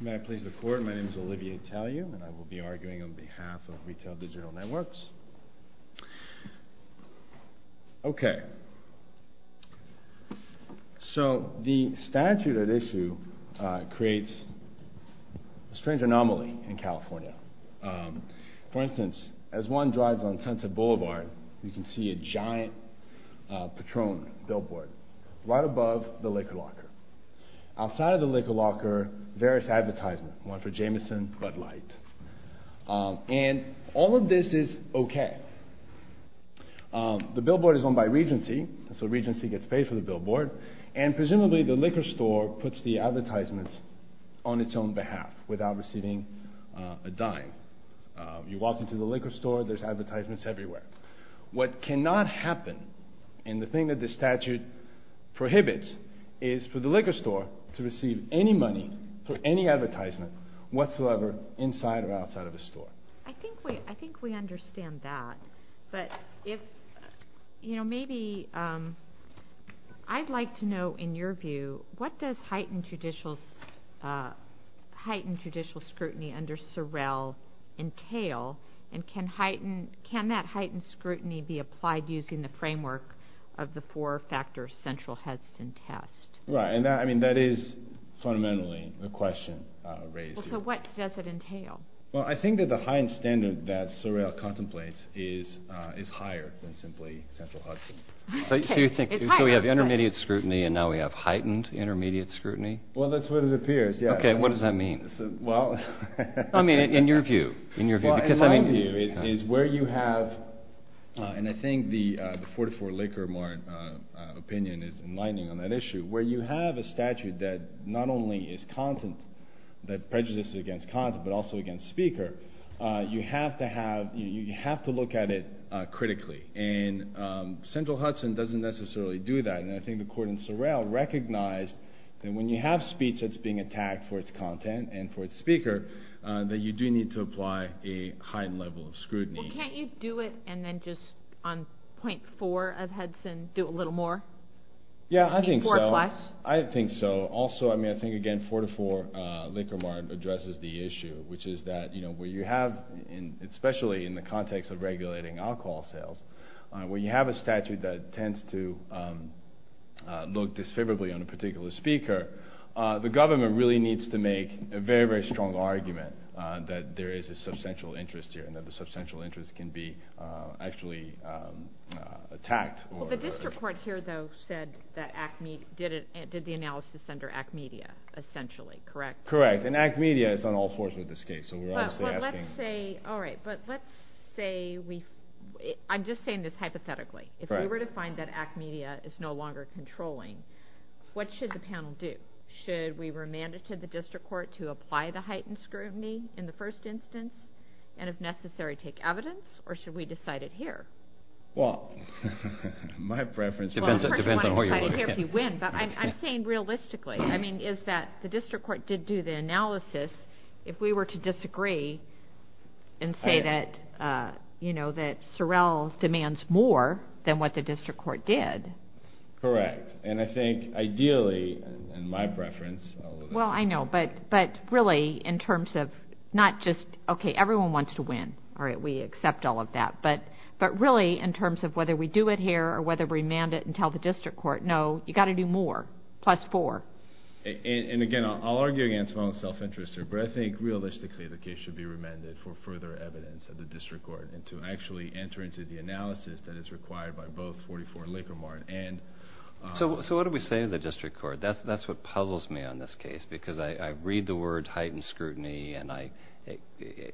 May I please the court, my name is Olivier Taliou and I will be arguing on behalf of Retail Digital Networks. Okay, so the statute at issue creates a strange anomaly in California. For instance, as one drives on Sunset Boulevard, you can see a giant Patron billboard right above the liquor locker. Outside of the liquor locker, various advertisements, one for Jameson, Bud Light, and all of this is okay. The billboard is owned by Regency, so Regency gets paid for the billboard, and presumably the liquor store puts the advertisements on its own behalf without receiving a dime. You walk into the liquor store, there's advertisements everywhere. What cannot happen, and the thing that the statute prohibits, is for the liquor store to receive any money for any advertisement whatsoever inside or outside of the store. I think we understand that, but I'd like to know in your view, what does heightened judicial scrutiny under Sorrell entail, and can that heightened scrutiny be applied using the framework of the four-factor Central Hudson test? Right, and that is fundamentally the question raised here. So what does it entail? Well, I think that the heightened standard that Sorrell contemplates is higher than simply Central Hudson. So you think we have intermediate scrutiny and now we have I mean, in your view. In my view, it is where you have, and I think the 44 Liquor Mart opinion is enlightening on that issue, where you have a statute that not only is content, that prejudices against content, but also against speaker. You have to look at it critically, and Central Hudson doesn't necessarily do that, and I think the court in Sorrell recognized that when you have speech that's being that you do need to apply a heightened level of scrutiny. Well, can't you do it and then just on point four of Hudson do a little more? Yeah, I think so. I think so. Also, I mean, I think again, 44 Liquor Mart addresses the issue, which is that where you have, especially in the context of regulating alcohol sales, where you have a statute that tends to look disfavorably on a particular speaker, the government really needs to make a very, very strong argument that there is a substantial interest here, and that the substantial interest can be actually attacked. The district court here, though, said that ACME did the analysis under ACMEDIA, essentially, correct? Correct, and ACMEDIA is on all fours with this case, so we're obviously asking. But let's say, alright, but let's say, I'm just saying this hypothetically. If we were to find that ACMEDIA is no longer controlling, what should the panel do? Should we remand it to the district court to apply the heightened scrutiny in the first instance, and if necessary, take evidence, or should we decide it here? Well, my preference depends on where you're voting. I'm saying realistically. I mean, is that the district court did do the analysis. If we were to disagree and say that, you know, that Sorrell demands more than what the district court did. Correct, and I think, ideally, in my preference, Well, I know, but really, in terms of not just, okay, everyone wants to win. Alright, we accept all of that, but really, in terms of whether we do it here or whether we remand it and tell the district court, no, you've got to do more, plus four. And, again, I'll argue against my own self-interest here, but I think, realistically, the case should be remanded for further evidence of the district court and to actually enter into the analysis that is required by both 44 Lake or Martin and So what do we say to the district court? That's what puzzles me on this case, because I read the word heightened scrutiny and I,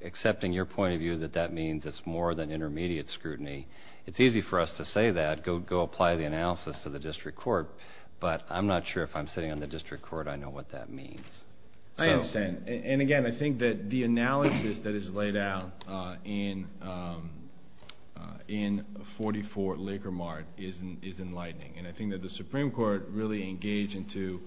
accepting your point of view that that means it's more than intermediate scrutiny, it's easy for us to say that, go apply the analysis to the district court, but I'm not sure if I'm sitting on the district court, I know what that means. I understand, and, again, I think that the analysis that is laid out in 44 Lake or Martin is enlightening, and I think that the Supreme Court really engaged into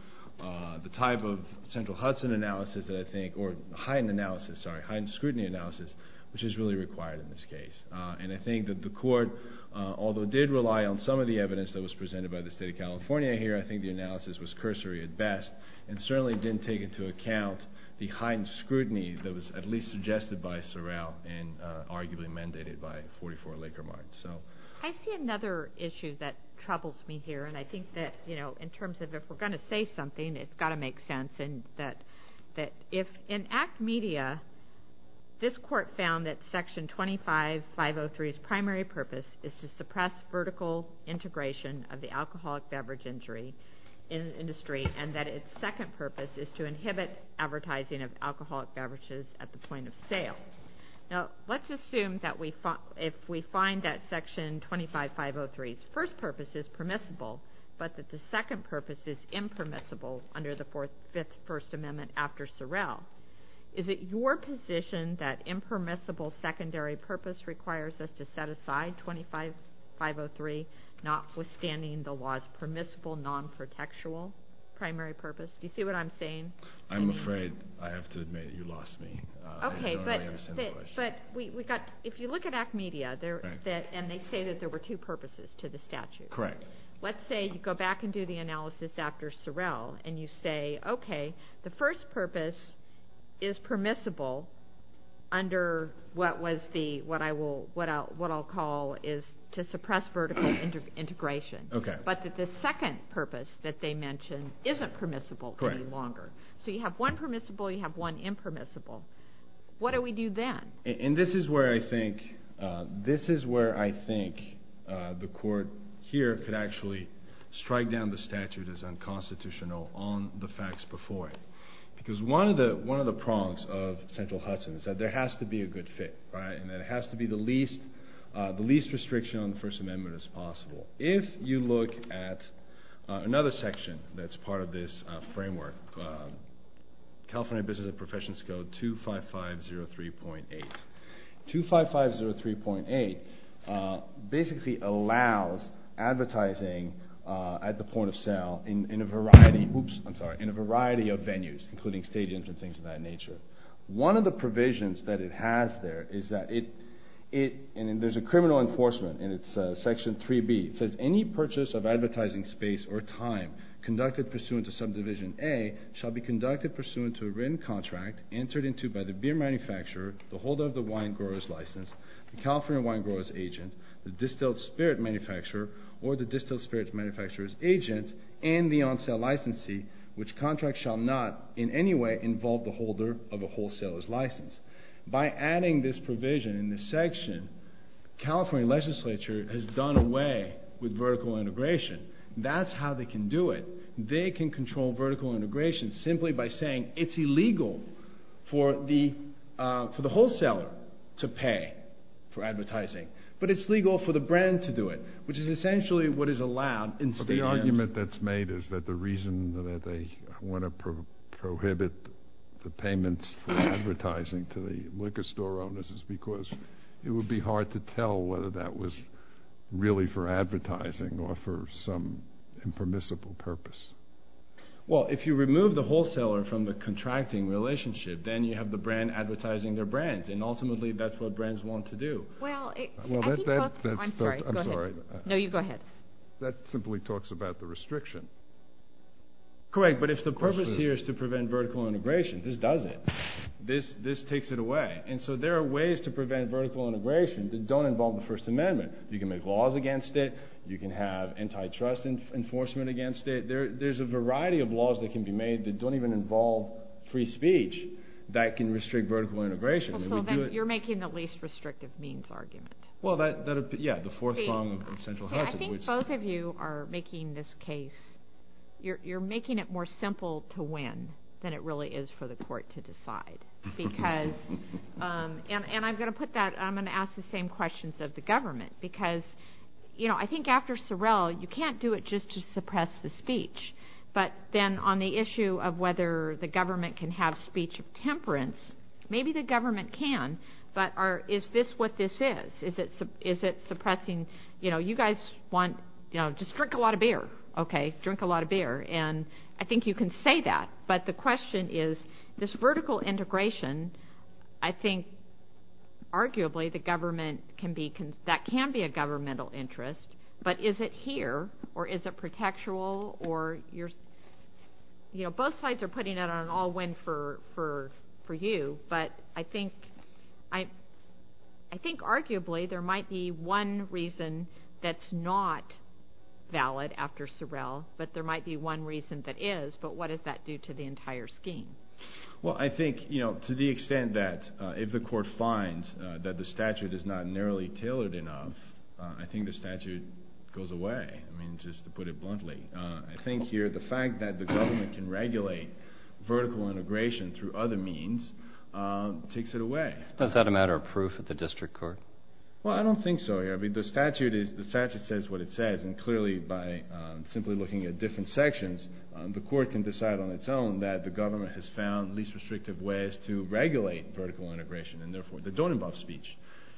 the type of central Hudson analysis that I think, or heightened analysis, sorry, heightened scrutiny analysis, which is really required in this case. And I think that the court, although it did rely on some of the evidence that was presented by the State of California here, I think the analysis was cursory at best and certainly didn't take into account the heightened scrutiny that was at least suggested by Sorrell and arguably mandated by 44 Lake or Martin. I see another issue that troubles me here, and I think that, you know, in terms of if we're going to say something, it's got to make sense, and that if in ACT Media this court found that Section 25503's primary purpose is to suppress vertical integration of the alcoholic beverage industry and that its second purpose is to inhibit advertising of alcoholic beverages at the point of sale. Now, let's assume that if we find that Section 25503's first purpose is permissible, but that the second purpose is impermissible under the Fifth First Amendment after Sorrell, is it your position that impermissible secondary purpose requires us to set aside 25503, notwithstanding the law's permissible non-protectual primary purpose? Do you see what I'm saying? I'm afraid I have to admit you lost me. Okay, but if you look at ACT Media, and they say that there were two purposes to the statute. Correct. Let's say you go back and do the analysis after Sorrell, and you say, okay, the first purpose is permissible under what I'll call is to suppress vertical integration, but that the second purpose that they mention isn't permissible any longer. So you have one permissible, you have one impermissible. What do we do then? And this is where I think the court here could actually strike down the statute as unconstitutional on the facts before it, because one of the prongs of Central Hudson is that there has to be a good fit, right, and that it has to be the least restriction on the First Amendment as possible. If you look at another section that's part of this framework, California Business and Professions Code 25503.8. 25503.8 basically allows advertising at the point of sale in a variety of venues, including stadiums and things of that nature. One of the provisions that it has there is that it, and there's a criminal enforcement, and it's section 3B. It says any purchase of advertising space or time conducted pursuant to subdivision A shall be conducted pursuant to a written contract entered into by the beer manufacturer, the holder of the wine grower's license, the California wine grower's agent, the distilled spirit manufacturer or the distilled spirit manufacturer's agent, and the on-sale licensee, which contract shall not in any way involve the holder of a wholesaler's license. By adding this provision in this section, California legislature has done away with vertical integration. That's how they can do it. They can control vertical integration simply by saying it's illegal for the wholesaler to pay for advertising, but it's legal for the brand to do it, which is essentially what is allowed in stadiums. The argument that's made is that the reason that they want to prohibit the payments for advertising to the liquor store owners is because it would be hard to tell whether that was really for advertising or for some impermissible purpose. Well, if you remove the wholesaler from the contracting relationship, then you have the brand advertising their brands, and ultimately that's what brands want to do. I'm sorry. Go ahead. No, you go ahead. That simply talks about the restriction. Correct, but if the purpose here is to prevent vertical integration, this does it. This takes it away, and so there are ways to prevent vertical integration that don't involve the First Amendment. You can make laws against it. You can have antitrust enforcement against it. There's a variety of laws that can be made that don't even involve free speech that can restrict vertical integration. So then you're making the least restrictive means argument. I think both of you are making this case. You're making it more simple to win than it really is for the court to decide. I'm going to ask the same questions of the government because I think after Sorrell, you can't do it just to suppress the speech, but then on the issue of whether the government can have speech of temperance, maybe the government can, but is this what this is? Is it suppressing, you know, you guys want, you know, just drink a lot of beer, okay? Drink a lot of beer, and I think you can say that, but the question is this vertical integration, I think arguably that can be a governmental interest, but is it here, or is it protectual? You know, both sides are putting it on an all-win for you, but I think arguably there might be one reason that's not valid after Sorrell, but there might be one reason that is, but what does that do to the entire scheme? Well, I think, you know, to the extent that if the court finds that the statute is not narrowly tailored enough, I think the statute goes away. I mean, just to put it bluntly, I think here the fact that the government can regulate vertical integration through other means takes it away. Is that a matter of proof at the district court? Well, I don't think so here. I mean, the statute says what it says, and clearly by simply looking at different sections, the court can decide on its own that the government has found least restrictive ways to regulate vertical integration, and therefore that don't involve speech,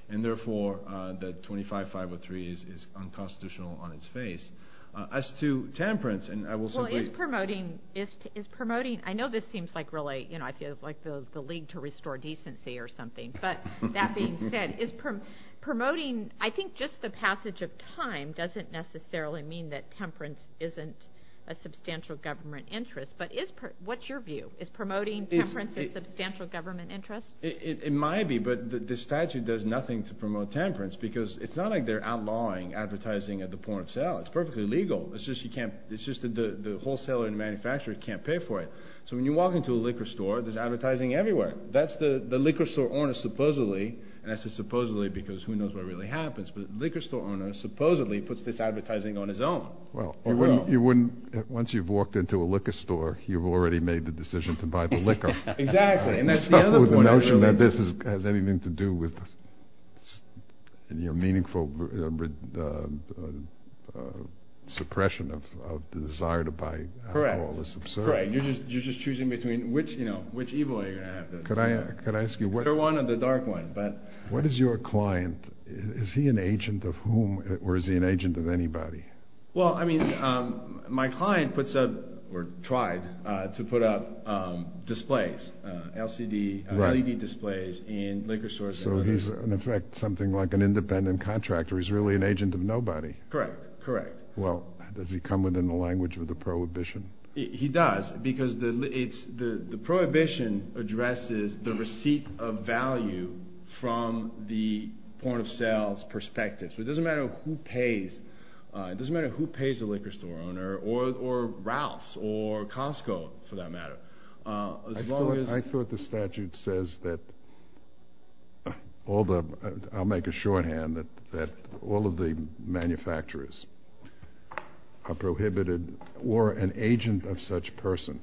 and therefore that 25-503 is unconstitutional on its face. As to temperance, and I will simply— Well, is promoting—I know this seems like really, you know, I feel like the League to Restore Decency or something, but that being said, is promoting—I think just the passage of time doesn't necessarily mean that temperance isn't a substantial government interest, but what's your view? Is promoting temperance a substantial government interest? It might be, but the statute does nothing to promote temperance because it's not like they're outlawing advertising at the point of sale. It's perfectly legal. It's just you can't—it's just the wholesaler and manufacturer can't pay for it. So when you walk into a liquor store, there's advertising everywhere. That's the liquor store owner supposedly—and I say supposedly because who knows what really happens, but the liquor store owner supposedly puts this advertising on his own. Well, you wouldn't—once you've walked into a liquor store, you've already made the decision to buy the liquor. Exactly, and that's the other point I really— So the notion that this has anything to do with your meaningful suppression of the desire to buy alcohol is absurd. Correct. You're just choosing between which, you know, which evil are you going to have to— Could I ask you what— The clear one or the dark one, but— What is your client—is he an agent of whom or is he an agent of anybody? Well, I mean, my client puts up—or tried to put up displays, LCD, LED displays in liquor stores. So he's, in effect, something like an independent contractor. He's really an agent of nobody. Correct, correct. Well, does he come within the language of the prohibition? He does because the prohibition addresses the receipt of value from the point of sale's perspective. So it doesn't matter who pays. It doesn't matter who pays the liquor store owner or Ralph's or Costco, for that matter. As long as— I thought the statute says that all the—I'll make a shorthand that all of the manufacturers are prohibited or an agent of such person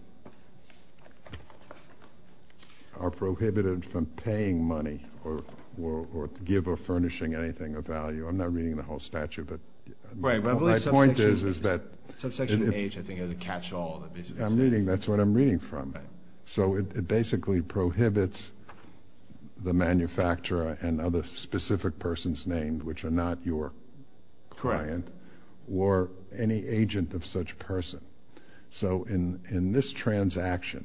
are prohibited from paying money or give or furnishing anything of value. I'm not reading the whole statute, but— Right, but I believe subsection— My point is that— Subsection H, I think, has a catch-all that basically states— I'm reading—that's what I'm reading from. So it basically prohibits the manufacturer and other specific persons named which are not your client or any agent of such person. So in this transaction,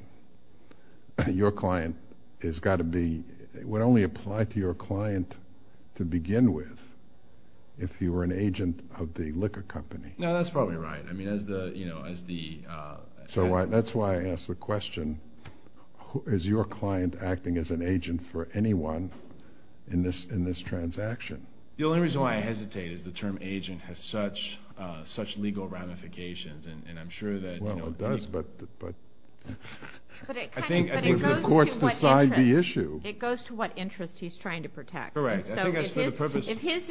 your client has got to be—it would only apply to your client to begin with if you were an agent of the liquor company. No, that's probably right. I mean, as the— So that's why I asked the question, is your client acting as an agent for anyone in this transaction? The only reason why I hesitate is the term agent has such legal ramifications, and I'm sure that— Well, it does, but— But it kind of— I think the courts decide the issue. It goes to what interest he's trying to protect. Correct. I think that's for the purpose— Have any cases held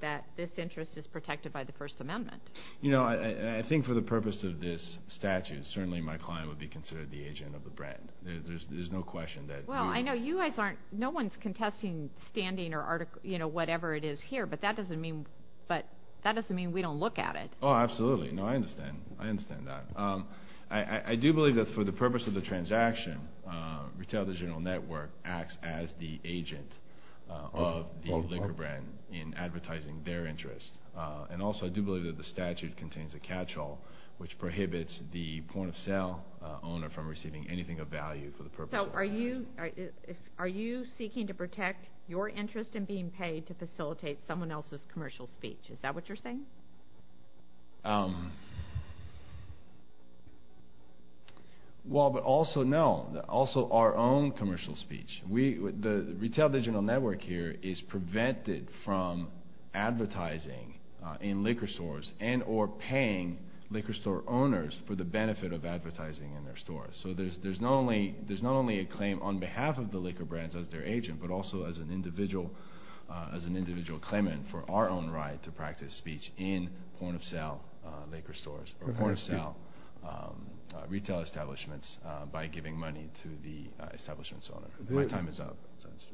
that this interest is protected by the First Amendment? You know, I think for the purpose of this statute, certainly my client would be considered the agent of the brand. There's no question that— Well, I know you guys aren't—no one's contesting standing or article—you know, whatever it is here, but that doesn't mean we don't look at it. Oh, absolutely. No, I understand. I understand that. I do believe that for the purpose of the transaction, Retailer General Network acts as the agent of the liquor brand in advertising their interest. And also, I do believe that the statute contains a catch-all, which prohibits the point-of-sale owner from receiving anything of value for the purpose of advertising. So are you seeking to protect your interest in being paid to facilitate someone else's commercial speech? Is that what you're saying? Well, but also, no. Also, our own commercial speech. The Retailer General Network here is prevented from advertising in liquor stores and or paying liquor store owners for the benefit of advertising in their stores. So there's not only a claim on behalf of the liquor brands as their agent, but also as an individual claimant for our own right to practice speech in point-of-sale liquor stores or point-of-sale retail establishments by giving money to the establishment's owner. My time is up.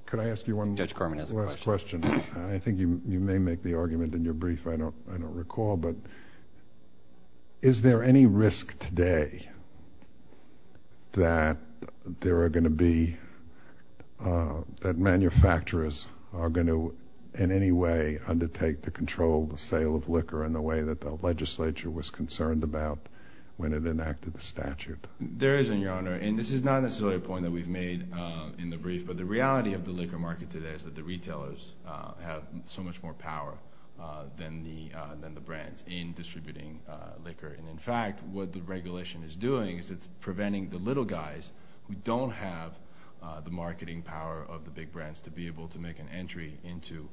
Could I ask you one last question? Judge Carman has a question. I think you may make the argument in your brief. I don't recall. But is there any risk today that there are going to be – that manufacturers are going to in any way undertake to control the sale of liquor in the way that the legislature was concerned about when it enacted the statute? There isn't, Your Honor, and this is not necessarily a point that we've made in the brief, but the reality of the liquor market today is that the retailers have so much more power than the brands in distributing liquor. And in fact, what the regulation is doing is it's preventing the little guys who don't have the marketing power of the big brands to be able to make an entry into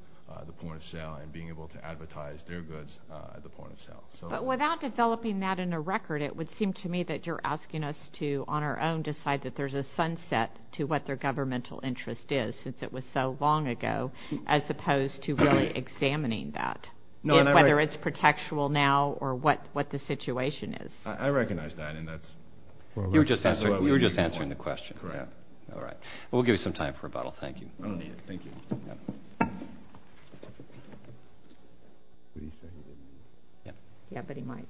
the point-of-sale and being able to advertise their goods at the point-of-sale. But without developing that in a record, it would seem to me that you're asking us to, on our own, decide that there's a sunset to what their governmental interest is since it was so long ago as opposed to really examining that, whether it's protectual now or what the situation is. I recognize that, and that's what we're looking for. You were just answering the question. Correct. All right. We'll give you some time for rebuttal. Thank you. I don't need it. Thank you. Yeah, but he might.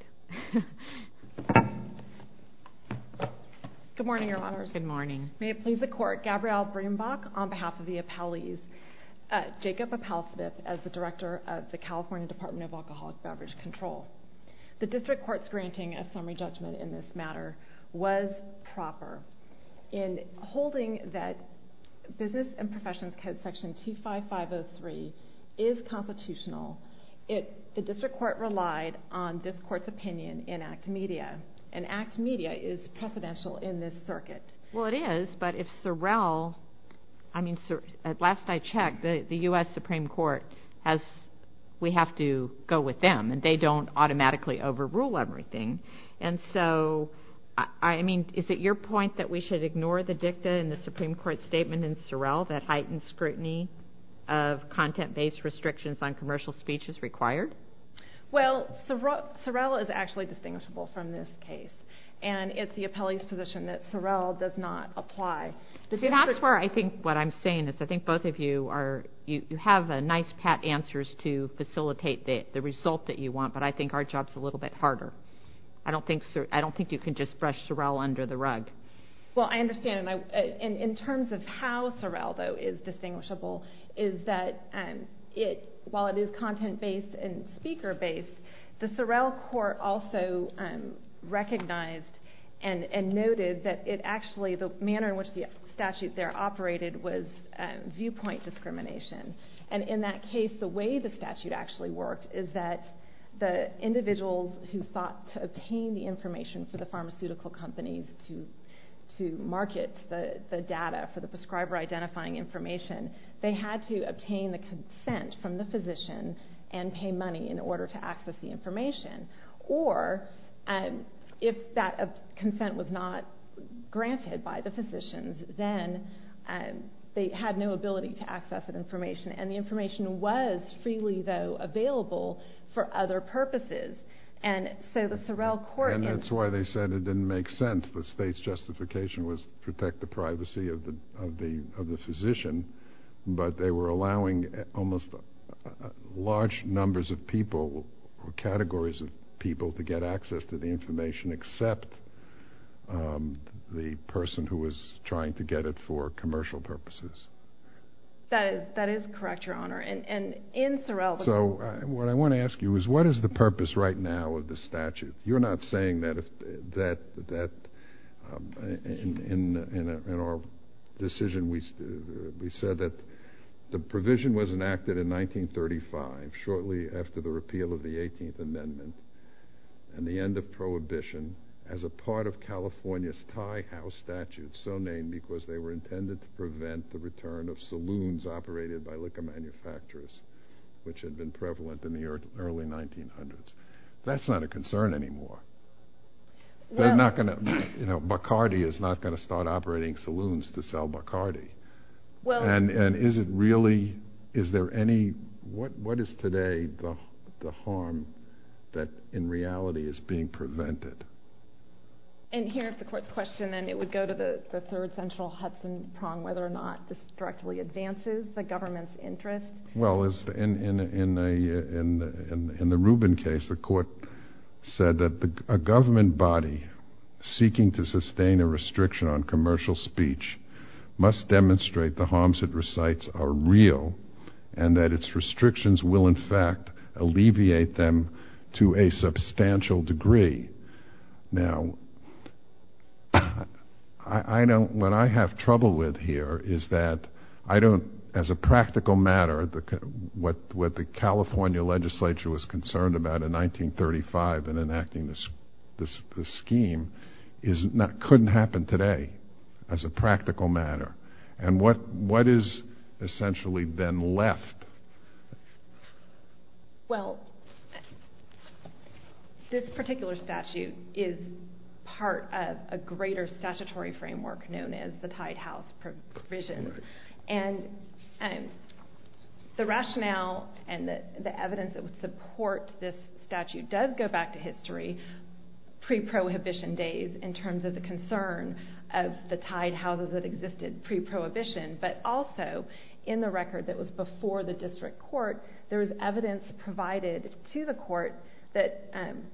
Good morning, Your Honors. Good morning. May it please the Court. Gabrielle Brembach on behalf of the appellees. Jacob Appelsmith as the Director of the California Department of Alcoholic Beverage Control. The District Court's granting a summary judgment in this matter was proper. In holding that Business and Professions Code Section 25503 is constitutional, the District Court relied on this Court's opinion in ACT Media, and ACT Media is precedential in this circuit. Well, it is, but if Sorrell – I mean, last I checked, the U.S. Supreme Court has – we have to go with them, and they don't automatically overrule everything. And so, I mean, is it your point that we should ignore the dicta in the Supreme Court statement in Sorrell that heightened scrutiny of content-based restrictions on commercial speech is required? Well, Sorrell is actually distinguishable from this case, and it's the appellee's position that Sorrell does not apply. That's where I think what I'm saying is I think both of you are – you have nice, pat answers to facilitate the result that you want, but I think our job's a little bit harder. I don't think you can just brush Sorrell under the rug. Well, I understand, and in terms of how Sorrell, though, is distinguishable is that while it is content-based and speaker-based, the Sorrell Court also recognized and noted that it actually – the manner in which the statute there operated was viewpoint discrimination. And in that case, the way the statute actually worked is that the individuals who sought to obtain the information for the pharmaceutical companies to market the data for the prescriber-identifying information, they had to obtain the consent from the physician and pay money in order to access the information. Or if that consent was not granted by the physicians, then they had no ability to access that information, and the information was freely, though, available for other purposes. And so the Sorrell Court – That is correct, Your Honor, and in Sorrell – So what I want to ask you is what is the purpose right now of the statute? You're not saying that if that – in our decision, we said that the provision was enacted in 1935, shortly after the repeal of the 18th Amendment and the end of Prohibition, as a part of California's tie-house statute, so named because they were intended to prevent the return of saloons operated by liquor manufacturers, which had been prevalent in the early 1900s. That's not a concern anymore. They're not going to – you know, Bacardi is not going to start operating saloons to sell Bacardi. And is it really – is there any – what is today the harm that, in reality, is being prevented? And here's the court's question, and it would go to the third central Hudson prong, whether or not this directly advances the government's interest. Well, in the Rubin case, the court said that a government body seeking to sustain a restriction on commercial speech must demonstrate the harms it recites are real and that its restrictions will, in fact, alleviate them to a substantial degree. Now, I don't – what I have trouble with here is that I don't – as a practical matter, what the California legislature was concerned about in 1935 in enacting this scheme couldn't happen today as a practical matter. And what is essentially then left? Well, this particular statute is part of a greater statutory framework known as the tied house provision. And the rationale and the evidence that would support this statute does go back to history pre-prohibition days in terms of the concern of the tied houses that existed pre-prohibition, but also in the record that was before the district court, there was evidence provided to the court that –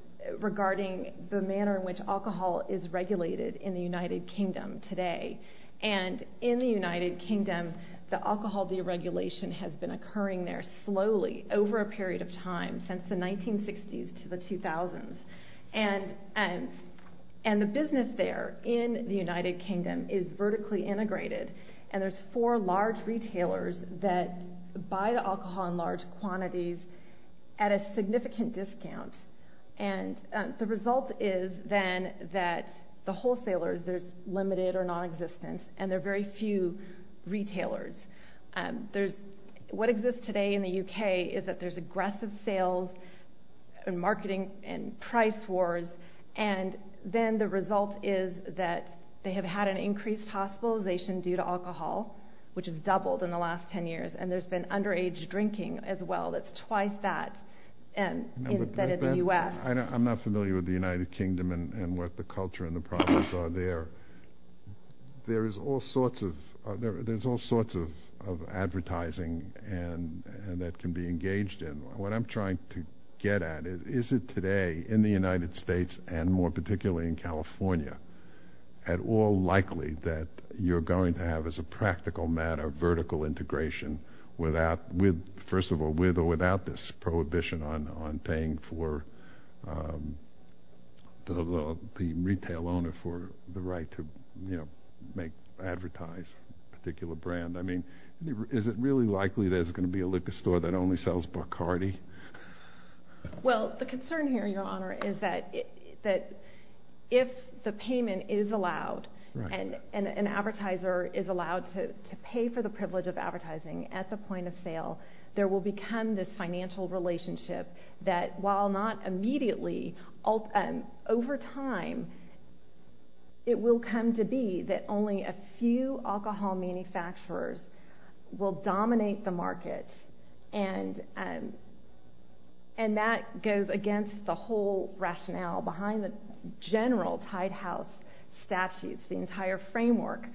regarding the manner in which alcohol is regulated in the United Kingdom today. And in the United Kingdom, the alcohol deregulation has been occurring there slowly over a period of time, since the 1960s to the 2000s. And the business there in the United Kingdom is vertically integrated, and there's four large retailers that buy the alcohol in large quantities at a significant discount. And the result is then that the wholesalers, there's limited or nonexistent, and there are very few retailers. What exists today in the U.K. is that there's aggressive sales and marketing and price wars. And then the result is that they have had an increased hospitalization due to alcohol, which has doubled in the last 10 years. And there's been underage drinking as well that's twice that instead of the U.S. I'm not familiar with the United Kingdom and what the culture and the profits are there. There is all sorts of – there's all sorts of advertising that can be engaged in. What I'm trying to get at is, is it today in the United States, and more particularly in California, at all likely that you're going to have, as a practical matter, vertical integration without – first of all, with or without this prohibition on paying for the retail owner for the right to advertise a particular brand? I mean, is it really likely there's going to be a liquor store that only sells Bacardi? Well, the concern here, Your Honor, is that if the payment is allowed and an advertiser is allowed to pay for the privilege of advertising at the point of sale, there will become this financial relationship that, while not immediately, over time it will come to be that only a few alcohol manufacturers will dominate the market. And that goes against the whole rationale behind the general Tide House statutes, the entire framework,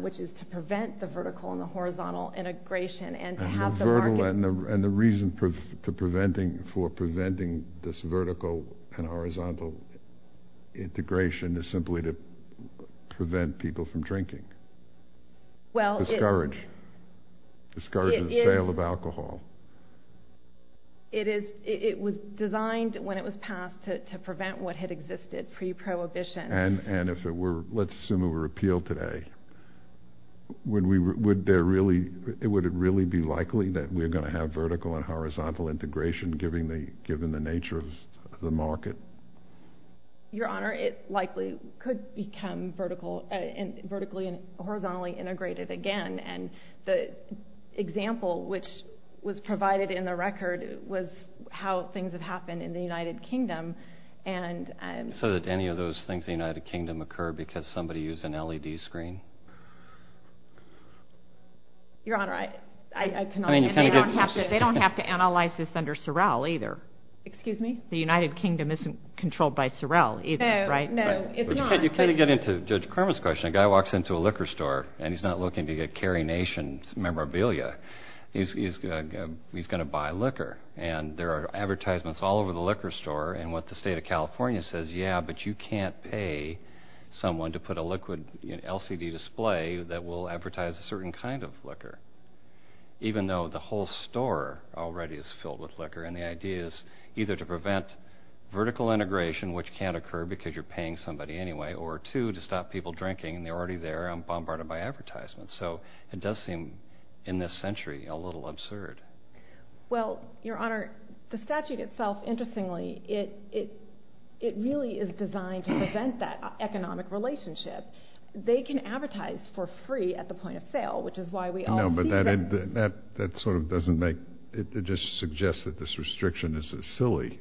which is to prevent the vertical and the horizontal integration and to have the market – And the reason for preventing this vertical and horizontal integration is simply to prevent people from drinking? Well, it – Discourage. Discourage the sale of alcohol. It is – it was designed, when it was passed, to prevent what had existed pre-prohibition. And if it were – let's assume it were repealed today, would there really – would it really be likely that we're going to have vertical and horizontal integration, given the nature of the market? Your Honor, it likely could become vertical – vertically and horizontally integrated again. And the example which was provided in the record was how things have happened in the United Kingdom. And – So that any of those things in the United Kingdom occur because somebody used an LED screen? Your Honor, I – it's not – I mean, it's kind of a good question. They don't have to – they don't have to analyze this under Sorrel, either. Excuse me? The United Kingdom isn't controlled by Sorrel, either, right? No, no, it's not. But you kind of get into Judge Kerman's question. A guy walks into a liquor store, and he's not looking to get Cary Nation's memorabilia. He's going to buy liquor. And there are advertisements all over the liquor store, and what the state of California says, yeah, but you can't pay someone to put a liquid LCD display that will advertise a certain kind of liquor, even though the whole store already is filled with liquor. And the idea is either to prevent vertical integration, which can't occur because you're paying somebody anyway, or two, to stop people drinking, and they're already there and bombarded by advertisements. So it does seem, in this century, a little absurd. Well, Your Honor, the statute itself, interestingly, it really is designed to prevent that economic relationship. They can advertise for free at the point of sale, which is why we all – No, but that sort of doesn't make – it just suggests that this restriction is silly.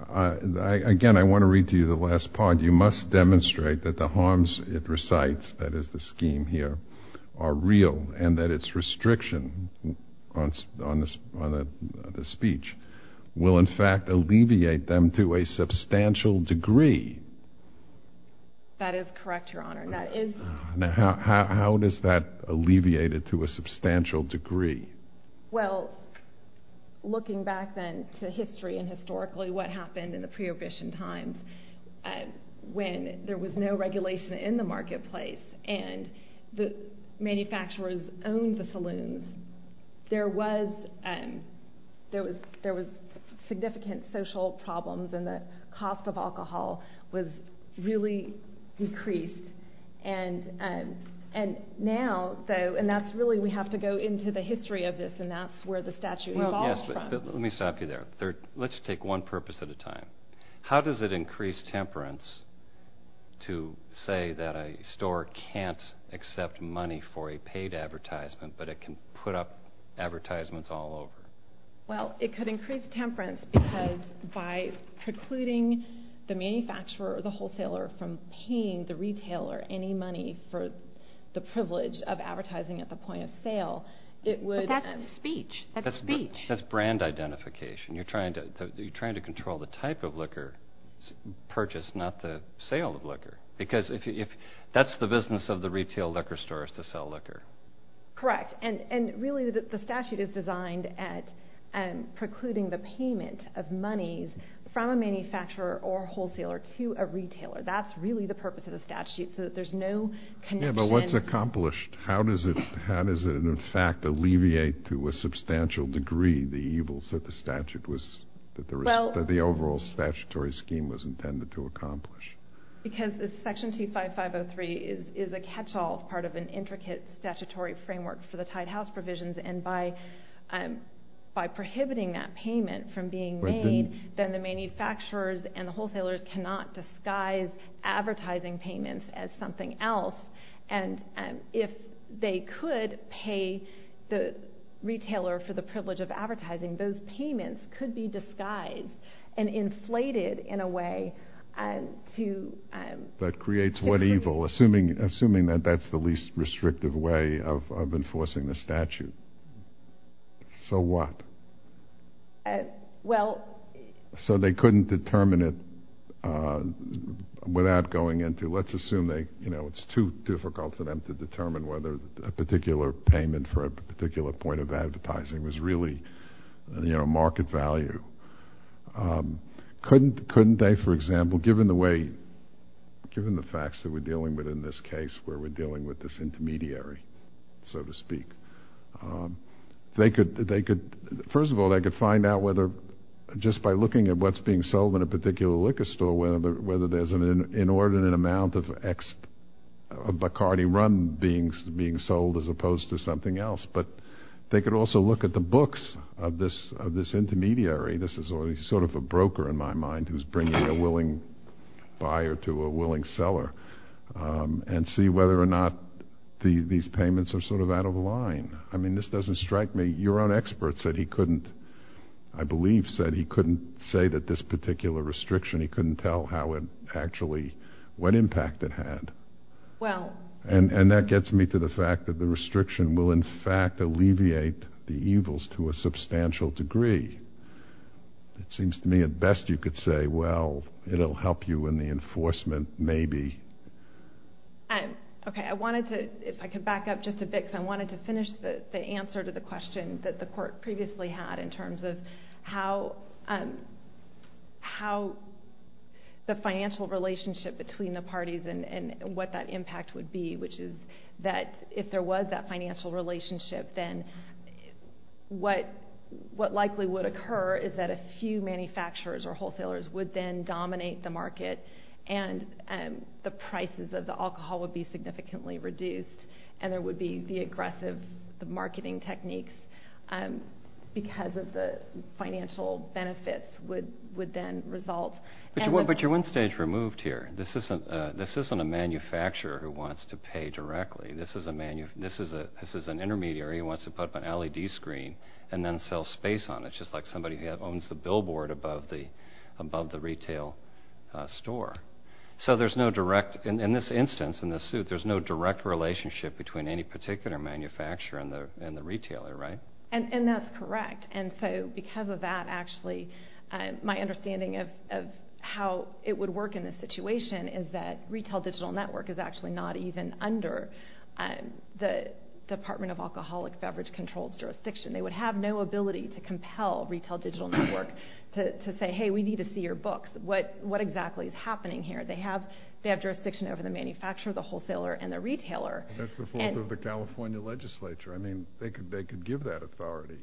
Again, I want to read to you the last part. You must demonstrate that the harms it recites, that is the scheme here, are real, and that its restriction on the speech will, in fact, alleviate them to a substantial degree. That is correct, Your Honor. Now, how does that alleviate it to a substantial degree? Well, looking back then to history and historically what happened in the pre-obission times, when there was no regulation in the marketplace and the manufacturers owned the saloons, there was significant social problems and the cost of alcohol was really decreased. And now, though, and that's really – we have to go into the history of this, and that's where the statute evolved from. Well, yes, but let me stop you there. Let's take one purpose at a time. How does it increase temperance to say that a store can't accept money for a paid advertisement but it can put up advertisements all over? Well, it could increase temperance because by precluding the manufacturer or the wholesaler from paying the retailer any money for the privilege of advertising at the point of sale, it would – But that's speech. That's speech. You're trying to control the type of liquor purchased, not the sale of liquor, because that's the business of the retail liquor store is to sell liquor. Correct, and really the statute is designed at precluding the payment of monies from a manufacturer or wholesaler to a retailer. That's really the purpose of the statute, so that there's no connection. Yeah, but what's accomplished? How does it, in fact, alleviate to a substantial degree the evils that the statute was – that the overall statutory scheme was intended to accomplish? Because Section 25503 is a catch-all part of an intricate statutory framework for the Tide House provisions, and by prohibiting that payment from being made, then the manufacturers and the wholesalers cannot disguise advertising payments as something else, and if they could pay the retailer for the privilege of advertising, those payments could be disguised and inflated in a way to – That creates what evil, assuming that that's the least restrictive way of enforcing the statute? So what? Well – So they couldn't determine it without going into – let's assume it's too difficult for them to determine whether a particular payment for a particular point of advertising was really market value. Couldn't they, for example, given the way – given the facts that we're dealing with in this case, where we're dealing with this intermediary, so to speak, they could – first of all, they could find out whether, just by looking at what's being sold in a particular liquor store, whether there's an inordinate amount of Bacardi rum being sold as opposed to something else. But they could also look at the books of this intermediary – this is sort of a broker in my mind who's bringing a willing buyer to a willing seller – and see whether or not these payments are sort of out of line. I mean, this doesn't strike me. Your own expert said he couldn't – I believe said he couldn't say that this particular restriction – he couldn't tell how it actually – what impact it had. Well – And that gets me to the fact that the restriction will, in fact, alleviate the evils to a substantial degree. It seems to me, at best, you could say, well, it'll help you in the enforcement, maybe. Okay. I wanted to – if I could back up just a bit, because I wanted to finish the answer to the question that the court previously had in terms of how the financial relationship between the parties and what that impact would be, which is that if there was that financial relationship, then what likely would occur is that a few manufacturers or wholesalers would then dominate the market. And the prices of the alcohol would be significantly reduced, and there would be the aggressive marketing techniques because of the financial benefits would then result. But you're one stage removed here. This isn't a manufacturer who wants to pay directly. This is an intermediary who wants to put up an LED screen and then sell space on it, just like somebody who owns the billboard above the retail store. So there's no direct – in this instance, in this suit, there's no direct relationship between any particular manufacturer and the retailer, right? And that's correct. And so because of that, actually, my understanding of how it would work in this situation is that Retail Digital Network is actually not even under the Department of Alcoholic Beverage Control's jurisdiction. They would have no ability to compel Retail Digital Network to say, hey, we need to see your books. What exactly is happening here? They have jurisdiction over the manufacturer, the wholesaler, and the retailer. That's the fault of the California legislature. I mean, they could give that authority.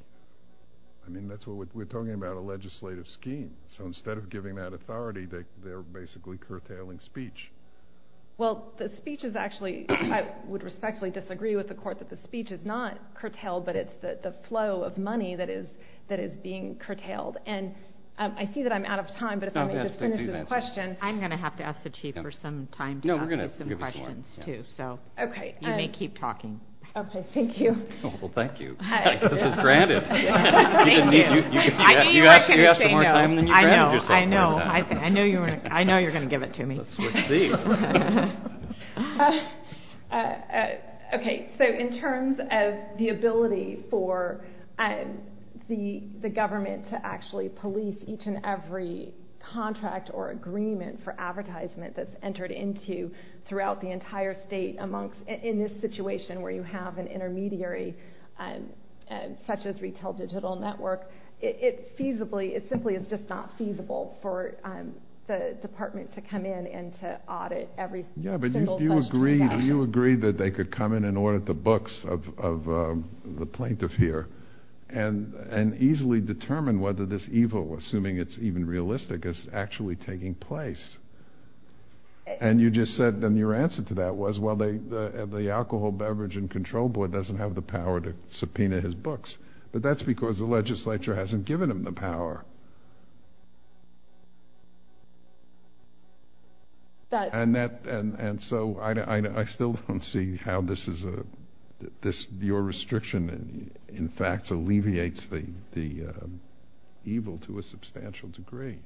I mean, that's what we're talking about, a legislative scheme. So instead of giving that authority, they're basically curtailing speech. Well, the speech is actually – I would respectfully disagree with the court that the speech is not curtailed, but it's the flow of money that is being curtailed. And I see that I'm out of time, but if I may just finish this question. I'm going to have to ask the Chief for some time to ask you some questions, too, so you may keep talking. Okay, thank you. Well, thank you. This is granted. Thank you. I knew you were going to say no. You asked for more time than you granted yourself. I know. I know you're going to give it to me. Let's wait and see. Okay, so in terms of the ability for the government to actually police each and every contract or agreement for advertisement that's entered into throughout the entire state amongst – in this situation where you have an intermediary such as Retail Digital Network, it's feasibly – it simply is just not feasible for the department to come in and to audit. Yeah, but you agreed that they could come in and audit the books of the plaintiff here and easily determine whether this evil, assuming it's even realistic, is actually taking place. And you just said – and your answer to that was, well, the Alcohol, Beverage, and Control Board doesn't have the power to subpoena his books, but that's because the legislature hasn't given him the power. And so I still don't see how this is a – your restriction in fact alleviates the evil to a substantial degree.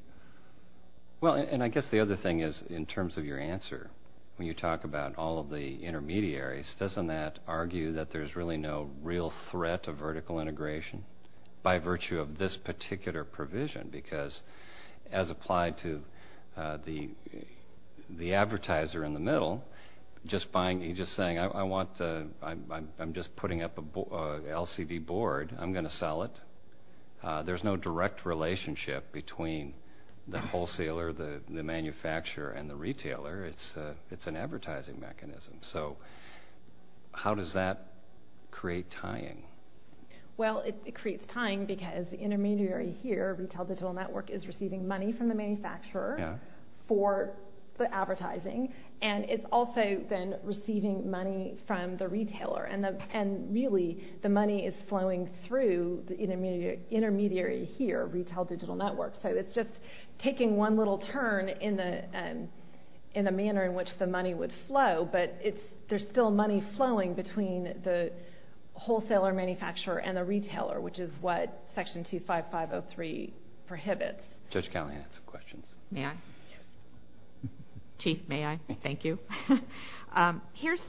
Well, and I guess the other thing is in terms of your answer, when you talk about all of the intermediaries, doesn't that argue that there's really no real threat of vertical integration by virtue of this particular provision? Because as applied to the advertiser in the middle, just buying – he's just saying, I want – I'm just putting up a LCD board, I'm going to sell it. There's no direct relationship between the wholesaler, the manufacturer, and the retailer. It's an advertising mechanism. So how does that create tying? Well, it creates tying because the intermediary here, Retail Digital Network, is receiving money from the manufacturer for the advertising. And it's also then receiving money from the retailer. And really, the money is flowing through the intermediary here, Retail Digital Network. So it's just taking one little turn in the manner in which the money would flow. But there's still money flowing between the wholesaler, manufacturer, and the retailer, which is what Section 25503 prohibits. Judge Connelly has some questions. May I? Chief, may I? Thank you. Here's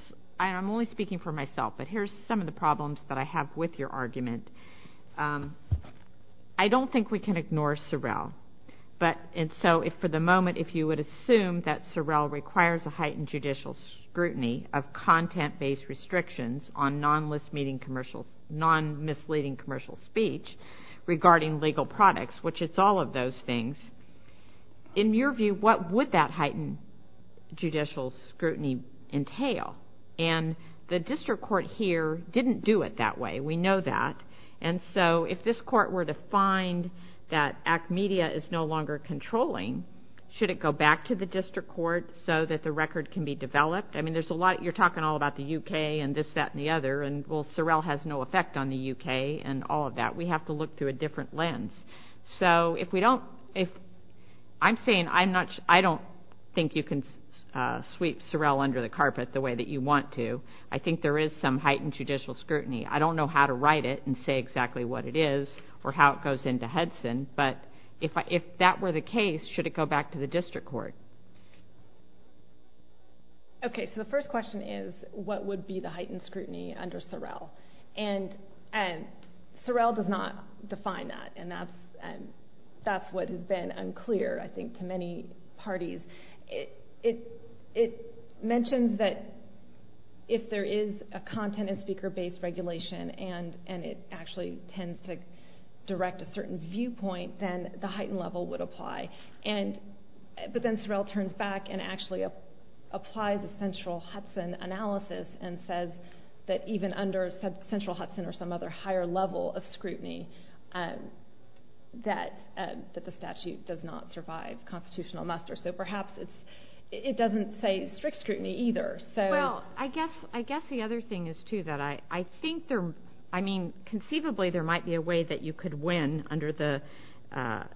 – I'm only speaking for myself, but here's some of the problems that I have with your argument. I don't think we can ignore Sorrell. But – and so if for the moment, if you would assume that Sorrell requires a heightened judicial scrutiny of content-based restrictions on non-misleading commercial speech regarding legal products, which it's all of those things, in your view, what would that heightened judicial scrutiny entail? And the district court here didn't do it that way. We know that. And so if this court were to find that ACT Media is no longer controlling, should it go back to the district court so that the record can be developed? I mean, there's a lot – you're talking all about the U.K. and this, that, and the other. And, well, Sorrell has no effect on the U.K. and all of that. We have to look through a different lens. So if we don't – if – I'm saying I'm not – I don't think you can sweep Sorrell under the carpet the way that you want to. I think there is some heightened judicial scrutiny. I don't know how to write it and say exactly what it is or how it goes into Henson. But if that were the case, should it go back to the district court? Okay, so the first question is what would be the heightened scrutiny under Sorrell? And Sorrell does not define that, and that's what has been unclear, I think, to many parties. It mentions that if there is a content- and speaker-based regulation and it actually tends to direct a certain viewpoint, then the heightened level would apply. But then Sorrell turns back and actually applies a central Hudson analysis and says that even under central Hudson or some other higher level of scrutiny that the statute does not survive constitutional muster. So perhaps it doesn't say strict scrutiny either. Well, I guess the other thing is, too, that I think there – I mean, conceivably, there might be a way that you could win under the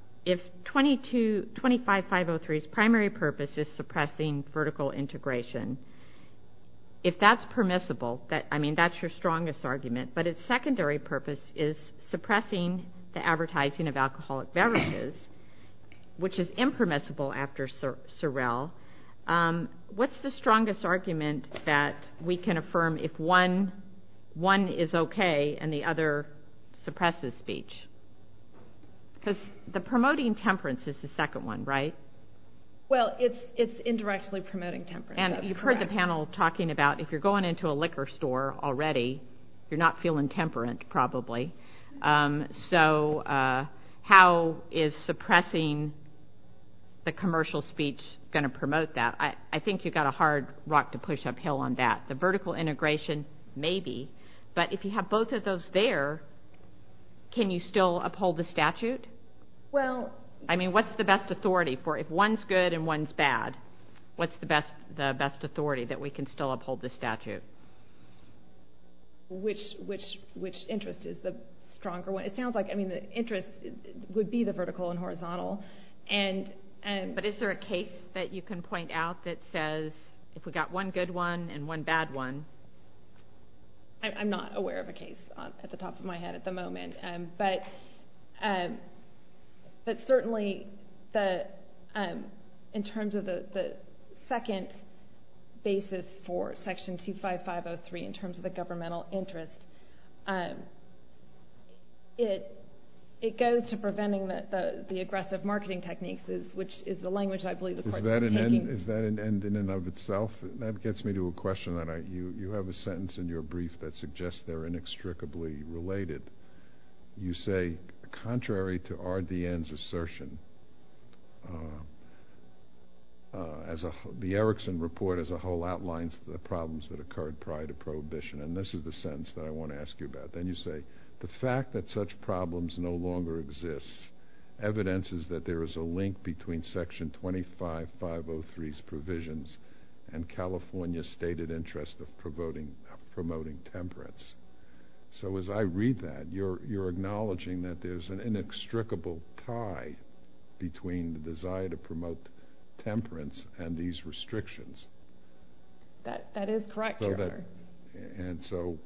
– if 25503's primary purpose is suppressing vertical integration, if that's permissible, I mean, that's your strongest argument, but its secondary purpose is suppressing the advertising of alcoholic beverages, which is impermissible after Sorrell. What's the strongest argument that we can affirm if one is okay and the other suppresses speech? Because the promoting temperance is the second one, right? Well, it's indirectly promoting temperance. And you've heard the panel talking about if you're going into a liquor store already, you're not feeling temperant probably. So how is suppressing the commercial speech going to promote that? I think you've got a hard rock to push uphill on that. The vertical integration, maybe. But if you have both of those there, can you still uphold the statute? Well – I mean, what's the best authority for – if one's good and one's bad, what's the best authority that we can still uphold the statute? Which interest is the stronger one? It sounds like, I mean, the interest would be the vertical and horizontal. But is there a case that you can point out that says if we've got one good one and one bad one? I'm not aware of a case at the top of my head at the moment. But certainly in terms of the second basis for Section 25503 in terms of the governmental interest, it goes to preventing the aggressive marketing techniques, which is the language I believe the courts are taking. Is that an end in and of itself? That gets me to a question. You have a sentence in your brief that suggests they're inextricably related. You say, contrary to RDN's assertion, the Erickson Report as a whole outlines the problems that occurred prior to Prohibition. And this is the sentence that I want to ask you about. Then you say, the fact that such problems no longer exist evidences that there is a link between Section 25503's provisions and California's stated interest of promoting temperance. So as I read that, you're acknowledging that there's an inextricable tie between the desire to promote temperance and these restrictions. That is correct, Your Honor. And so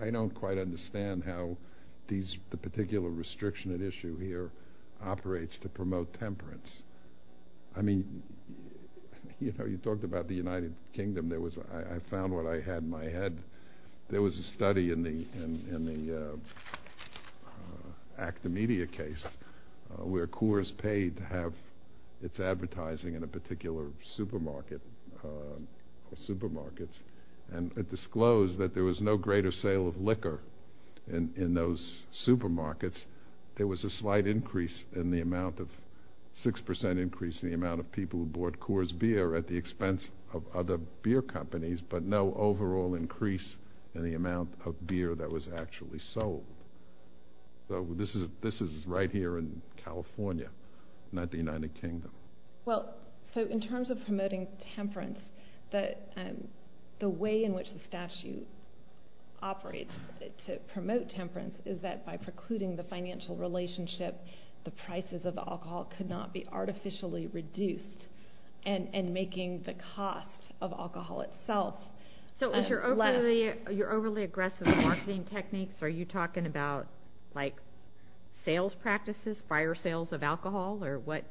I don't quite understand how the particular restriction at issue here operates to promote temperance. I mean, you talked about the United Kingdom. I found what I had in my head. There was a study in the ACTA Media case where Coors paid to have its advertising in a particular supermarket and it disclosed that there was no greater sale of liquor in those supermarkets. There was a slight increase in the amount of 6% increase in the amount of people who bought Coors beer at the expense of other beer companies, but no overall increase in the amount of beer that was actually sold. So this is right here in California, not the United Kingdom. Well, so in terms of promoting temperance, the way in which the statute operates to promote temperance is that by precluding the financial relationship, the prices of alcohol could not be artificially reduced and making the cost of alcohol itself less. So with your overly aggressive marketing techniques, are you talking about, like, sales practices, prior sales of alcohol, or what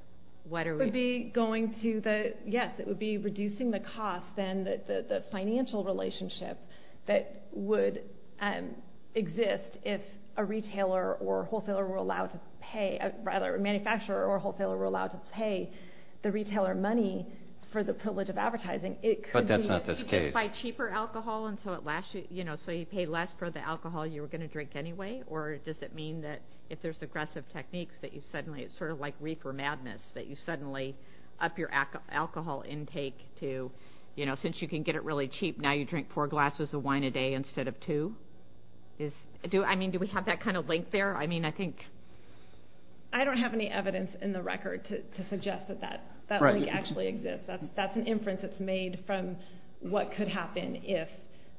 are we... It would be going to the, yes, it would be reducing the cost and the financial relationship that would exist if a retailer or a wholesaler were allowed to pay, rather, a manufacturer or a wholesaler were allowed to pay the retailer money for the privilege of advertising, it could be... But that's not this case. By cheaper alcohol, and so at last, you know, so you pay less for the alcohol you were going to drink anyway, or does it mean that if there's aggressive techniques, that you suddenly, it's sort of like Reaper Madness, that you suddenly up your alcohol intake to, you know, since you can get it really cheap, now you drink four glasses of wine a day instead of two? I mean, do we have that kind of link there? I mean, I think... I don't have any evidence in the record to suggest that that link actually exists. That's an inference that's made from what could happen if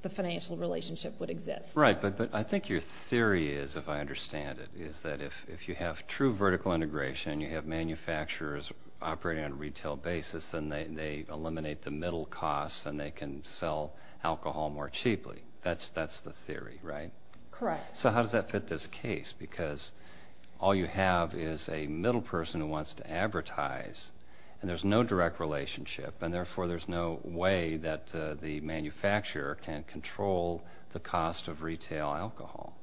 the financial relationship would exist. Right, but I think your theory is, if I understand it, is that if you have true vertical integration, you have manufacturers operating on a retail basis, then they eliminate the middle costs and they can sell alcohol more cheaply. That's the theory, right? Correct. So how does that fit this case? Because all you have is a middle person who wants to advertise, and there's no direct relationship, and therefore there's no way that the manufacturer can control the cost of retail alcohol.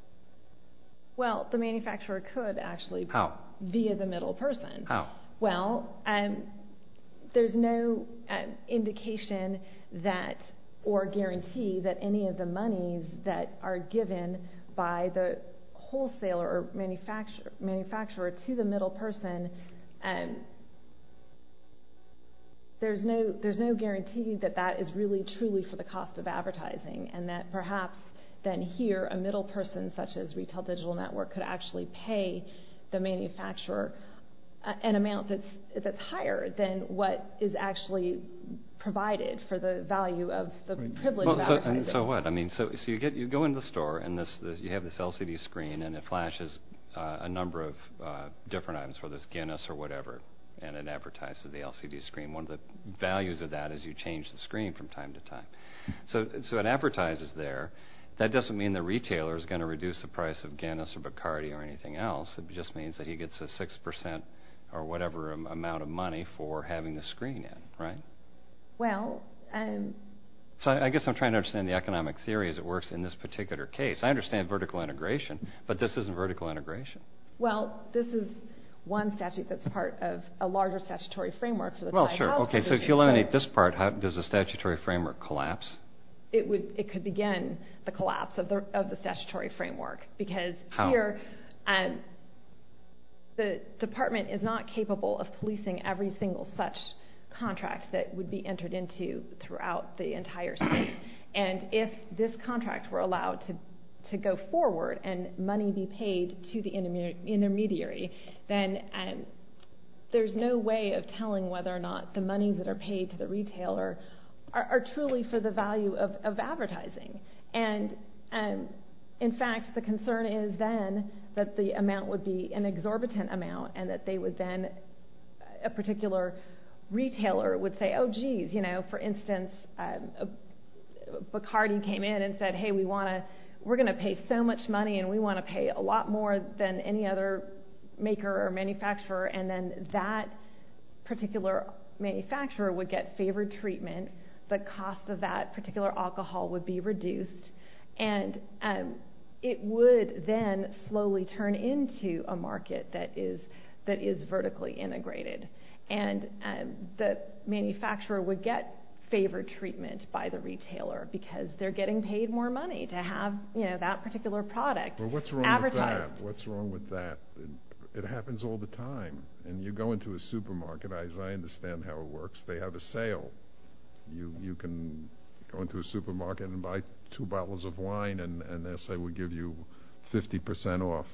Well, the manufacturer could actually. How? Via the middle person. How? Well, there's no indication that, or guarantee that any of the money that are given by the wholesaler or manufacturer to the middle person... There's no guarantee that that is really truly for the cost of advertising, and that perhaps then here a middle person, such as Retail Digital Network, could actually pay the manufacturer an amount that's higher than what is actually provided for the value of the privilege of advertising. So what? So you go into the store, and you have this LCD screen, and it flashes a number of different items, whether it's Guinness or whatever, and it advertises the LCD screen. One of the values of that is you change the screen from time to time. So it advertises there. That doesn't mean the retailer is going to reduce the price of Guinness or Bacardi or anything else. It just means that he gets a 6% or whatever amount of money for having the screen in, right? Well... So I guess I'm trying to understand the economic theory as it works in this particular case. I understand vertical integration, but this isn't vertical integration. Well, this is one statute that's part of a larger statutory framework. Well, sure. Okay, so if you eliminate this part, does the statutory framework collapse? It could begin the collapse of the statutory framework, because here the department is not capable of policing every single such contract that would be entered into throughout the entire state. And if this contract were allowed to go forward and money be paid to the intermediary, then there's no way of telling whether or not the money that are paid to the retailer are truly for the value of advertising. And, in fact, the concern is then that the amount would be an exorbitant amount and that they would then... a particular retailer would say, Oh, geez, you know, for instance, Bacardi came in and said, Hey, we're going to pay so much money and we want to pay a lot more than any other maker or manufacturer, and then that particular manufacturer would get favored treatment. The cost of that particular alcohol would be reduced, and it would then slowly turn into a market that is vertically integrated. And the manufacturer would get favored treatment by the retailer because they're getting paid more money to have that particular product advertised. Well, what's wrong with that? It happens all the time. And you go into a supermarket, as I understand how it works, they have a sale. You can go into a supermarket and buy two bottles of wine and they'll say we'll give you 50% off.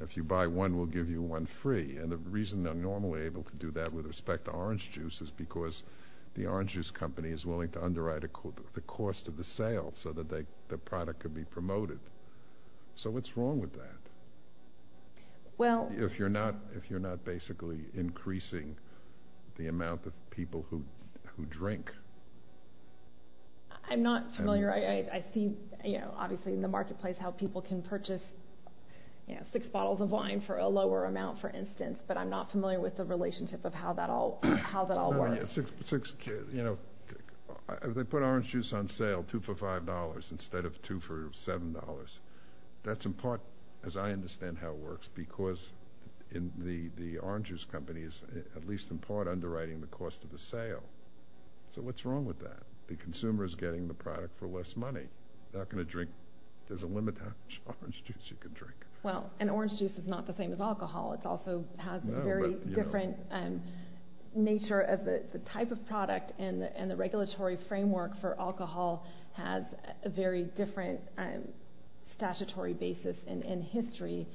If you buy one, we'll give you one free. And the reason they're normally able to do that with respect to orange juice is because the orange juice company is willing to underwrite the cost of the sale so that the product could be promoted. So what's wrong with that? If you're not basically increasing the amount of people who drink. I'm not familiar. I see, obviously, in the marketplace how people can purchase six bottles of wine for a lower amount, for instance, but I'm not familiar with the relationship of how that all works. If they put orange juice on sale, two for $5 instead of two for $7, that's in part, as I understand how it works, because the orange juice company is at least in part underwriting the cost of the sale. So what's wrong with that? The consumer is getting the product for less money. They're not going to drink. There's a limit to how much orange juice you can drink. Well, and orange juice is not the same as alcohol. It also has a very different nature of the type of product and the regulatory framework for alcohol has a very different statutory basis in history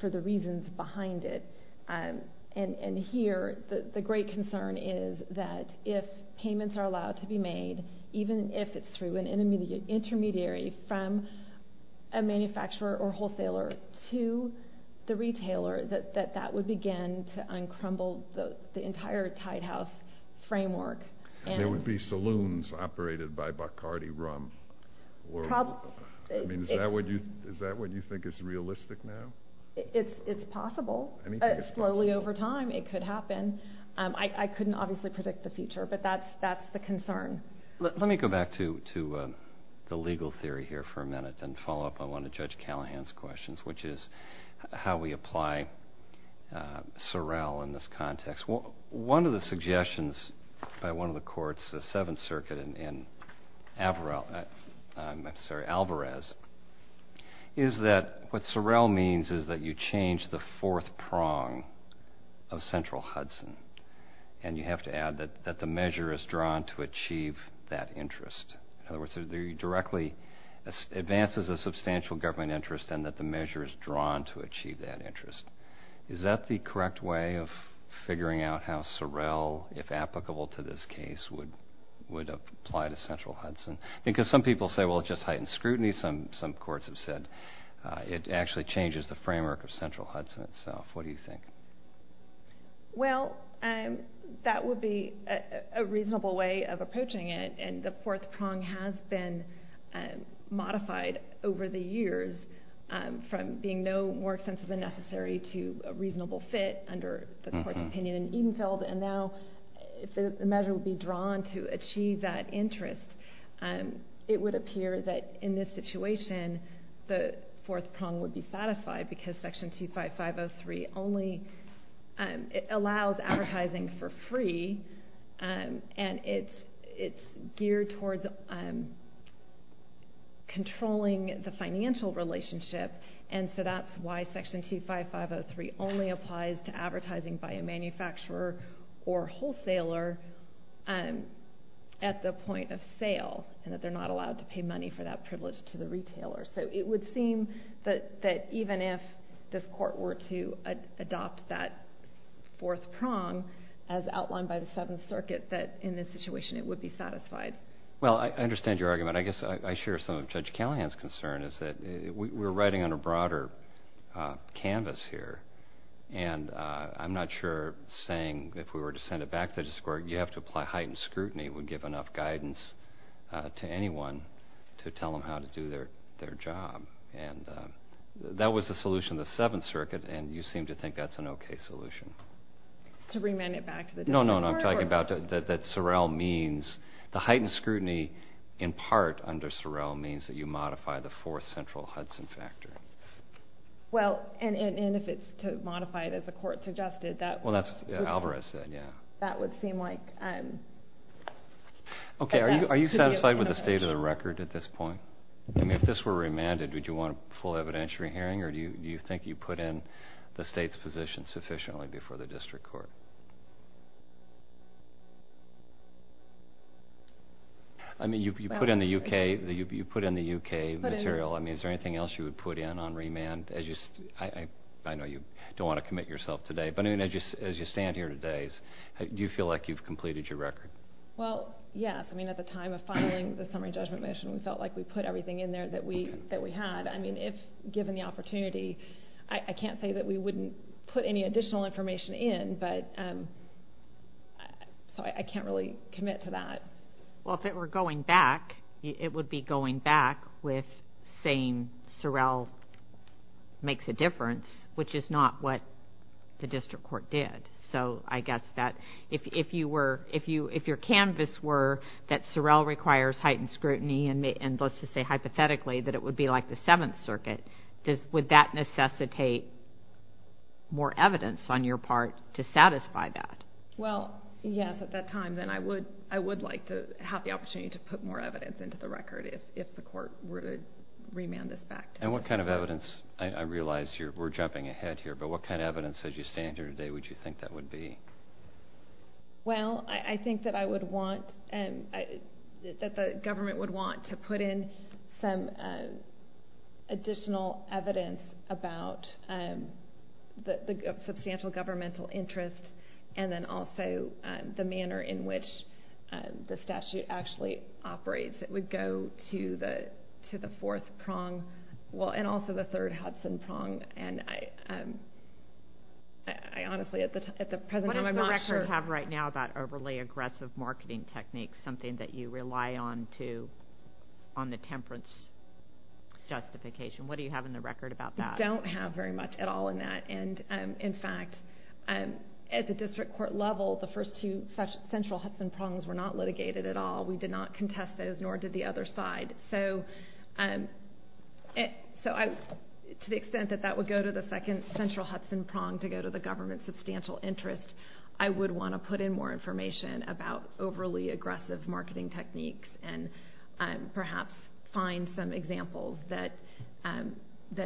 for the reasons behind it. And here the great concern is that if payments are allowed to be made, even if it's through an intermediary, from a manufacturer or wholesaler to the retailer, that that would begin to uncrumble the entire Tide House framework. And there would be saloons operated by Bacardi Rum. Is that what you think is realistic now? It's possible. Anything is possible. Slowly over time it could happen. I couldn't obviously predict the future, but that's the concern. Let me go back to the legal theory here for a minute and follow up on one of Judge Callahan's questions, which is how we apply Sorrel in this context. One of the suggestions by one of the courts, the Seventh Circuit in Alvarez, is that what Sorrel means is that you change the fourth prong of Central Hudson, and you have to add that the measure is drawn to achieve that interest. In other words, it directly advances a substantial government interest and that the measure is drawn to achieve that interest. Is that the correct way of figuring out how Sorrel, if applicable to this case, would apply to Central Hudson? Because some people say, well, it just heightens scrutiny. Some courts have said it actually changes the framework of Central Hudson itself. What do you think? Well, that would be a reasonable way of approaching it, and the fourth prong has been modified over the years from being no more extensive than necessary to a reasonable fit under the court's opinion in Edenfield, and now if the measure would be drawn to achieve that interest, it would appear that in this situation the fourth prong would be satisfied because Section 25503 only allows advertising for free, and it's geared towards controlling the financial relationship, and so that's why Section 25503 only applies to advertising by a manufacturer or wholesaler at the point of sale, and that they're not allowed to pay money for that privilege to the retailer. So it would seem that even if this court were to adopt that fourth prong, as outlined by the Seventh Circuit, that in this situation it would be satisfied. Well, I understand your argument. I guess I share some of Judge Callahan's concern is that we're writing on a broader canvas here, and I'm not sure saying if we were to send it back to the district court you have to apply heightened scrutiny would give enough guidance to anyone to tell them how to do their job, and that was the solution of the Seventh Circuit, and you seem to think that's an okay solution. To remand it back to the district court? No, no, no. I'm talking about that Sorrell means the heightened scrutiny, in part under Sorrell, means that you modify the fourth central Hudson factor. Well, and if it's to modify it as the court suggested, that would seem like... Okay. Are you satisfied with the state of the record at this point? I mean, if this were remanded, would you want a full evidentiary hearing, or do you think you put in the state's position sufficiently before the district court? I mean, you put in the U.K. material. I mean, is there anything else you would put in on remand? I know you don't want to commit yourself today, but as you stand here today, do you feel like you've completed your record? Well, yes. I mean, at the time of filing the summary judgment motion, we felt like we put everything in there that we had. I mean, if given the opportunity, I can't say that we wouldn't put any additional information in, but I can't really commit to that. Well, if it were going back, it would be going back with saying Sorrell makes a difference, which is not what the district court did. So I guess that if your canvas were that Sorrell requires heightened scrutiny and let's just say hypothetically that it would be like the Seventh Circuit, would that necessitate more evidence on your part to satisfy that? Well, yes, at that time. Then I would like to have the opportunity to put more evidence into the record if the court were to remand this back to us. And what kind of evidence? I realize we're jumping ahead here, but what kind of evidence as you stand here today would you think that would be? Well, I think that the government would want to put in some additional evidence about the substantial governmental interest and then also the manner in which the statute actually operates. It would go to the fourth prong and also the third Hudson prong. And I honestly, at the present time, I'm not sure. What does the record have right now about overly aggressive marketing techniques, something that you rely on to on the temperance justification? What do you have in the record about that? We don't have very much at all in that. And, in fact, at the district court level, the first two central Hudson prongs were not litigated at all. We did not contest those, nor did the other side. So to the extent that that would go to the second central Hudson prong to go to the government's substantial interest, I would want to put in more information about overly aggressive marketing techniques and perhaps find some examples that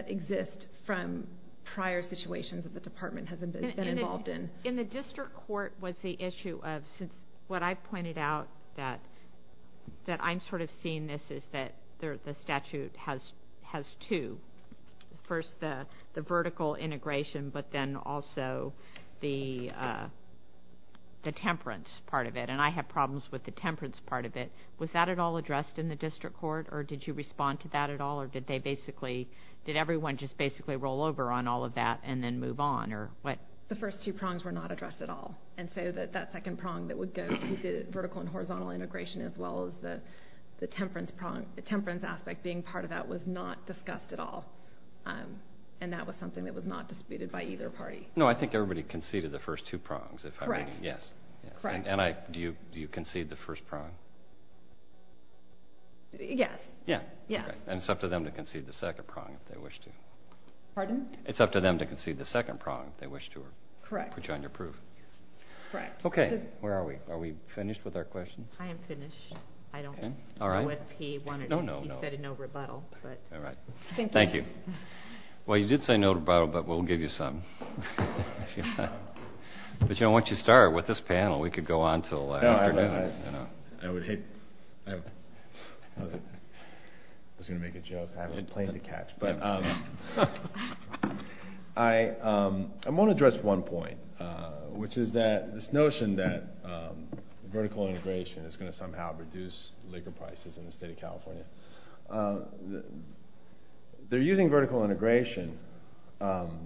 exist from prior situations that the department has been involved in. In the district court was the issue of, since what I've pointed out, that I'm sort of seeing this as that the statute has two. First, the vertical integration, but then also the temperance part of it. And I have problems with the temperance part of it. Was that at all addressed in the district court, or did you respond to that at all, or did everyone just basically roll over on all of that and then move on? The first two prongs were not addressed at all. And so that second prong that would go to the vertical and horizontal integration as well as the temperance aspect being part of that was not discussed at all. And that was something that was not disputed by either party. No, I think everybody conceded the first two prongs. Correct. Do you concede the first prong? Yes. And it's up to them to concede the second prong if they wish to. Pardon? It's up to them to concede the second prong if they wish to. Correct. Put you on your proof. Correct. Okay. Where are we? Are we finished with our questions? I am finished. I don't know if he said a no rebuttal. All right. Thank you. Well, you did say no rebuttal, but we'll give you some. But, you know, why don't you start with this panel? We could go on until after dinner. I was going to make a joke. I had a plane to catch. But I want to address one point, which is that this notion that vertical integration is going to somehow reduce liquor prices in the state of California. They're using vertical integration to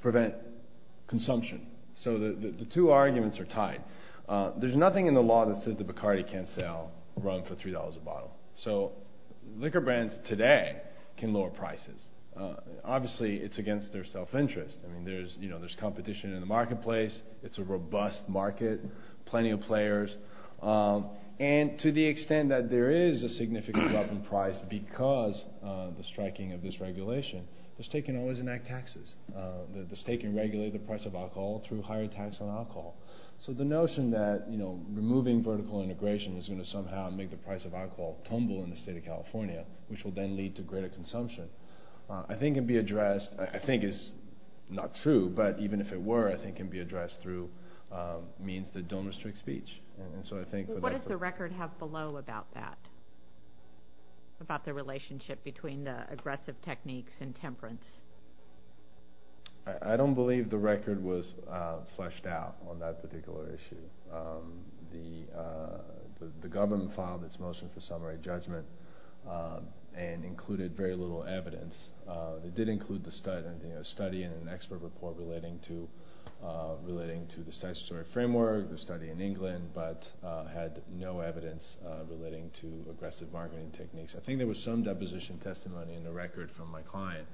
prevent consumption. So the two arguments are tied. There's nothing in the law that says that Bacardi can't sell rum for $3 a bottle. So liquor brands today can lower prices. Obviously, it's against their self-interest. I mean, there's competition in the marketplace. It's a robust market, plenty of players. And to the extent that there is a significant drop in price because of the striking of this regulation, the state can always enact taxes. The state can regulate the price of alcohol through higher tax on alcohol. So the notion that, you know, removing vertical integration is going to somehow make the price of alcohol tumble in the state of California, which will then lead to greater consumption, I think can be addressed. I think it's not true. But even if it were, I think it can be addressed through means that don't restrict speech. And so I think what the record has below about that, about the relationship between the aggressive techniques and temperance. I don't believe the record was fleshed out on that particular issue. The government filed its motion for summary judgment and included very little evidence. It did include the study and an expert report relating to the statutory framework, the study in England, but had no evidence relating to aggressive bargaining techniques. I think there was some deposition testimony in the record from my client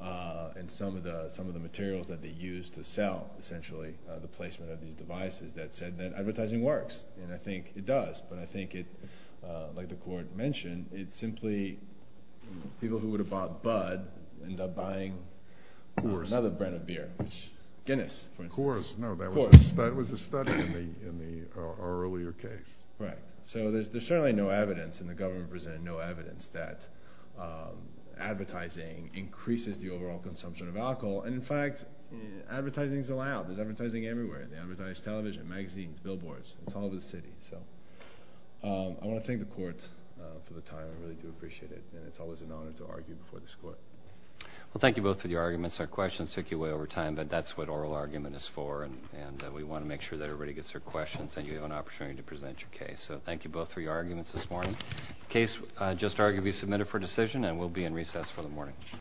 and some of the materials that they used to sell, essentially the placement of these devices that said that advertising works. And I think it does. But I think it, like the court mentioned, it's simply people who would have bought Bud end up buying another brand of beer, Guinness, for instance. Of course. Of course. No, that was a study in the earlier case. Right. So there's certainly no evidence, and the government presented no evidence, that advertising increases the overall consumption of alcohol. And, in fact, advertising is allowed. There's advertising everywhere. They advertise television, magazines, billboards. It's all over the city. So I want to thank the court for the time. I really do appreciate it. And it's always an honor to argue before this court. Well, thank you both for your arguments. Our questions took you way over time, but that's what oral argument is for. And we want to make sure that everybody gets their questions and you have an opportunity to present your case. So thank you both for your arguments this morning. The case just arguably submitted for decision and will be in recess for the morning.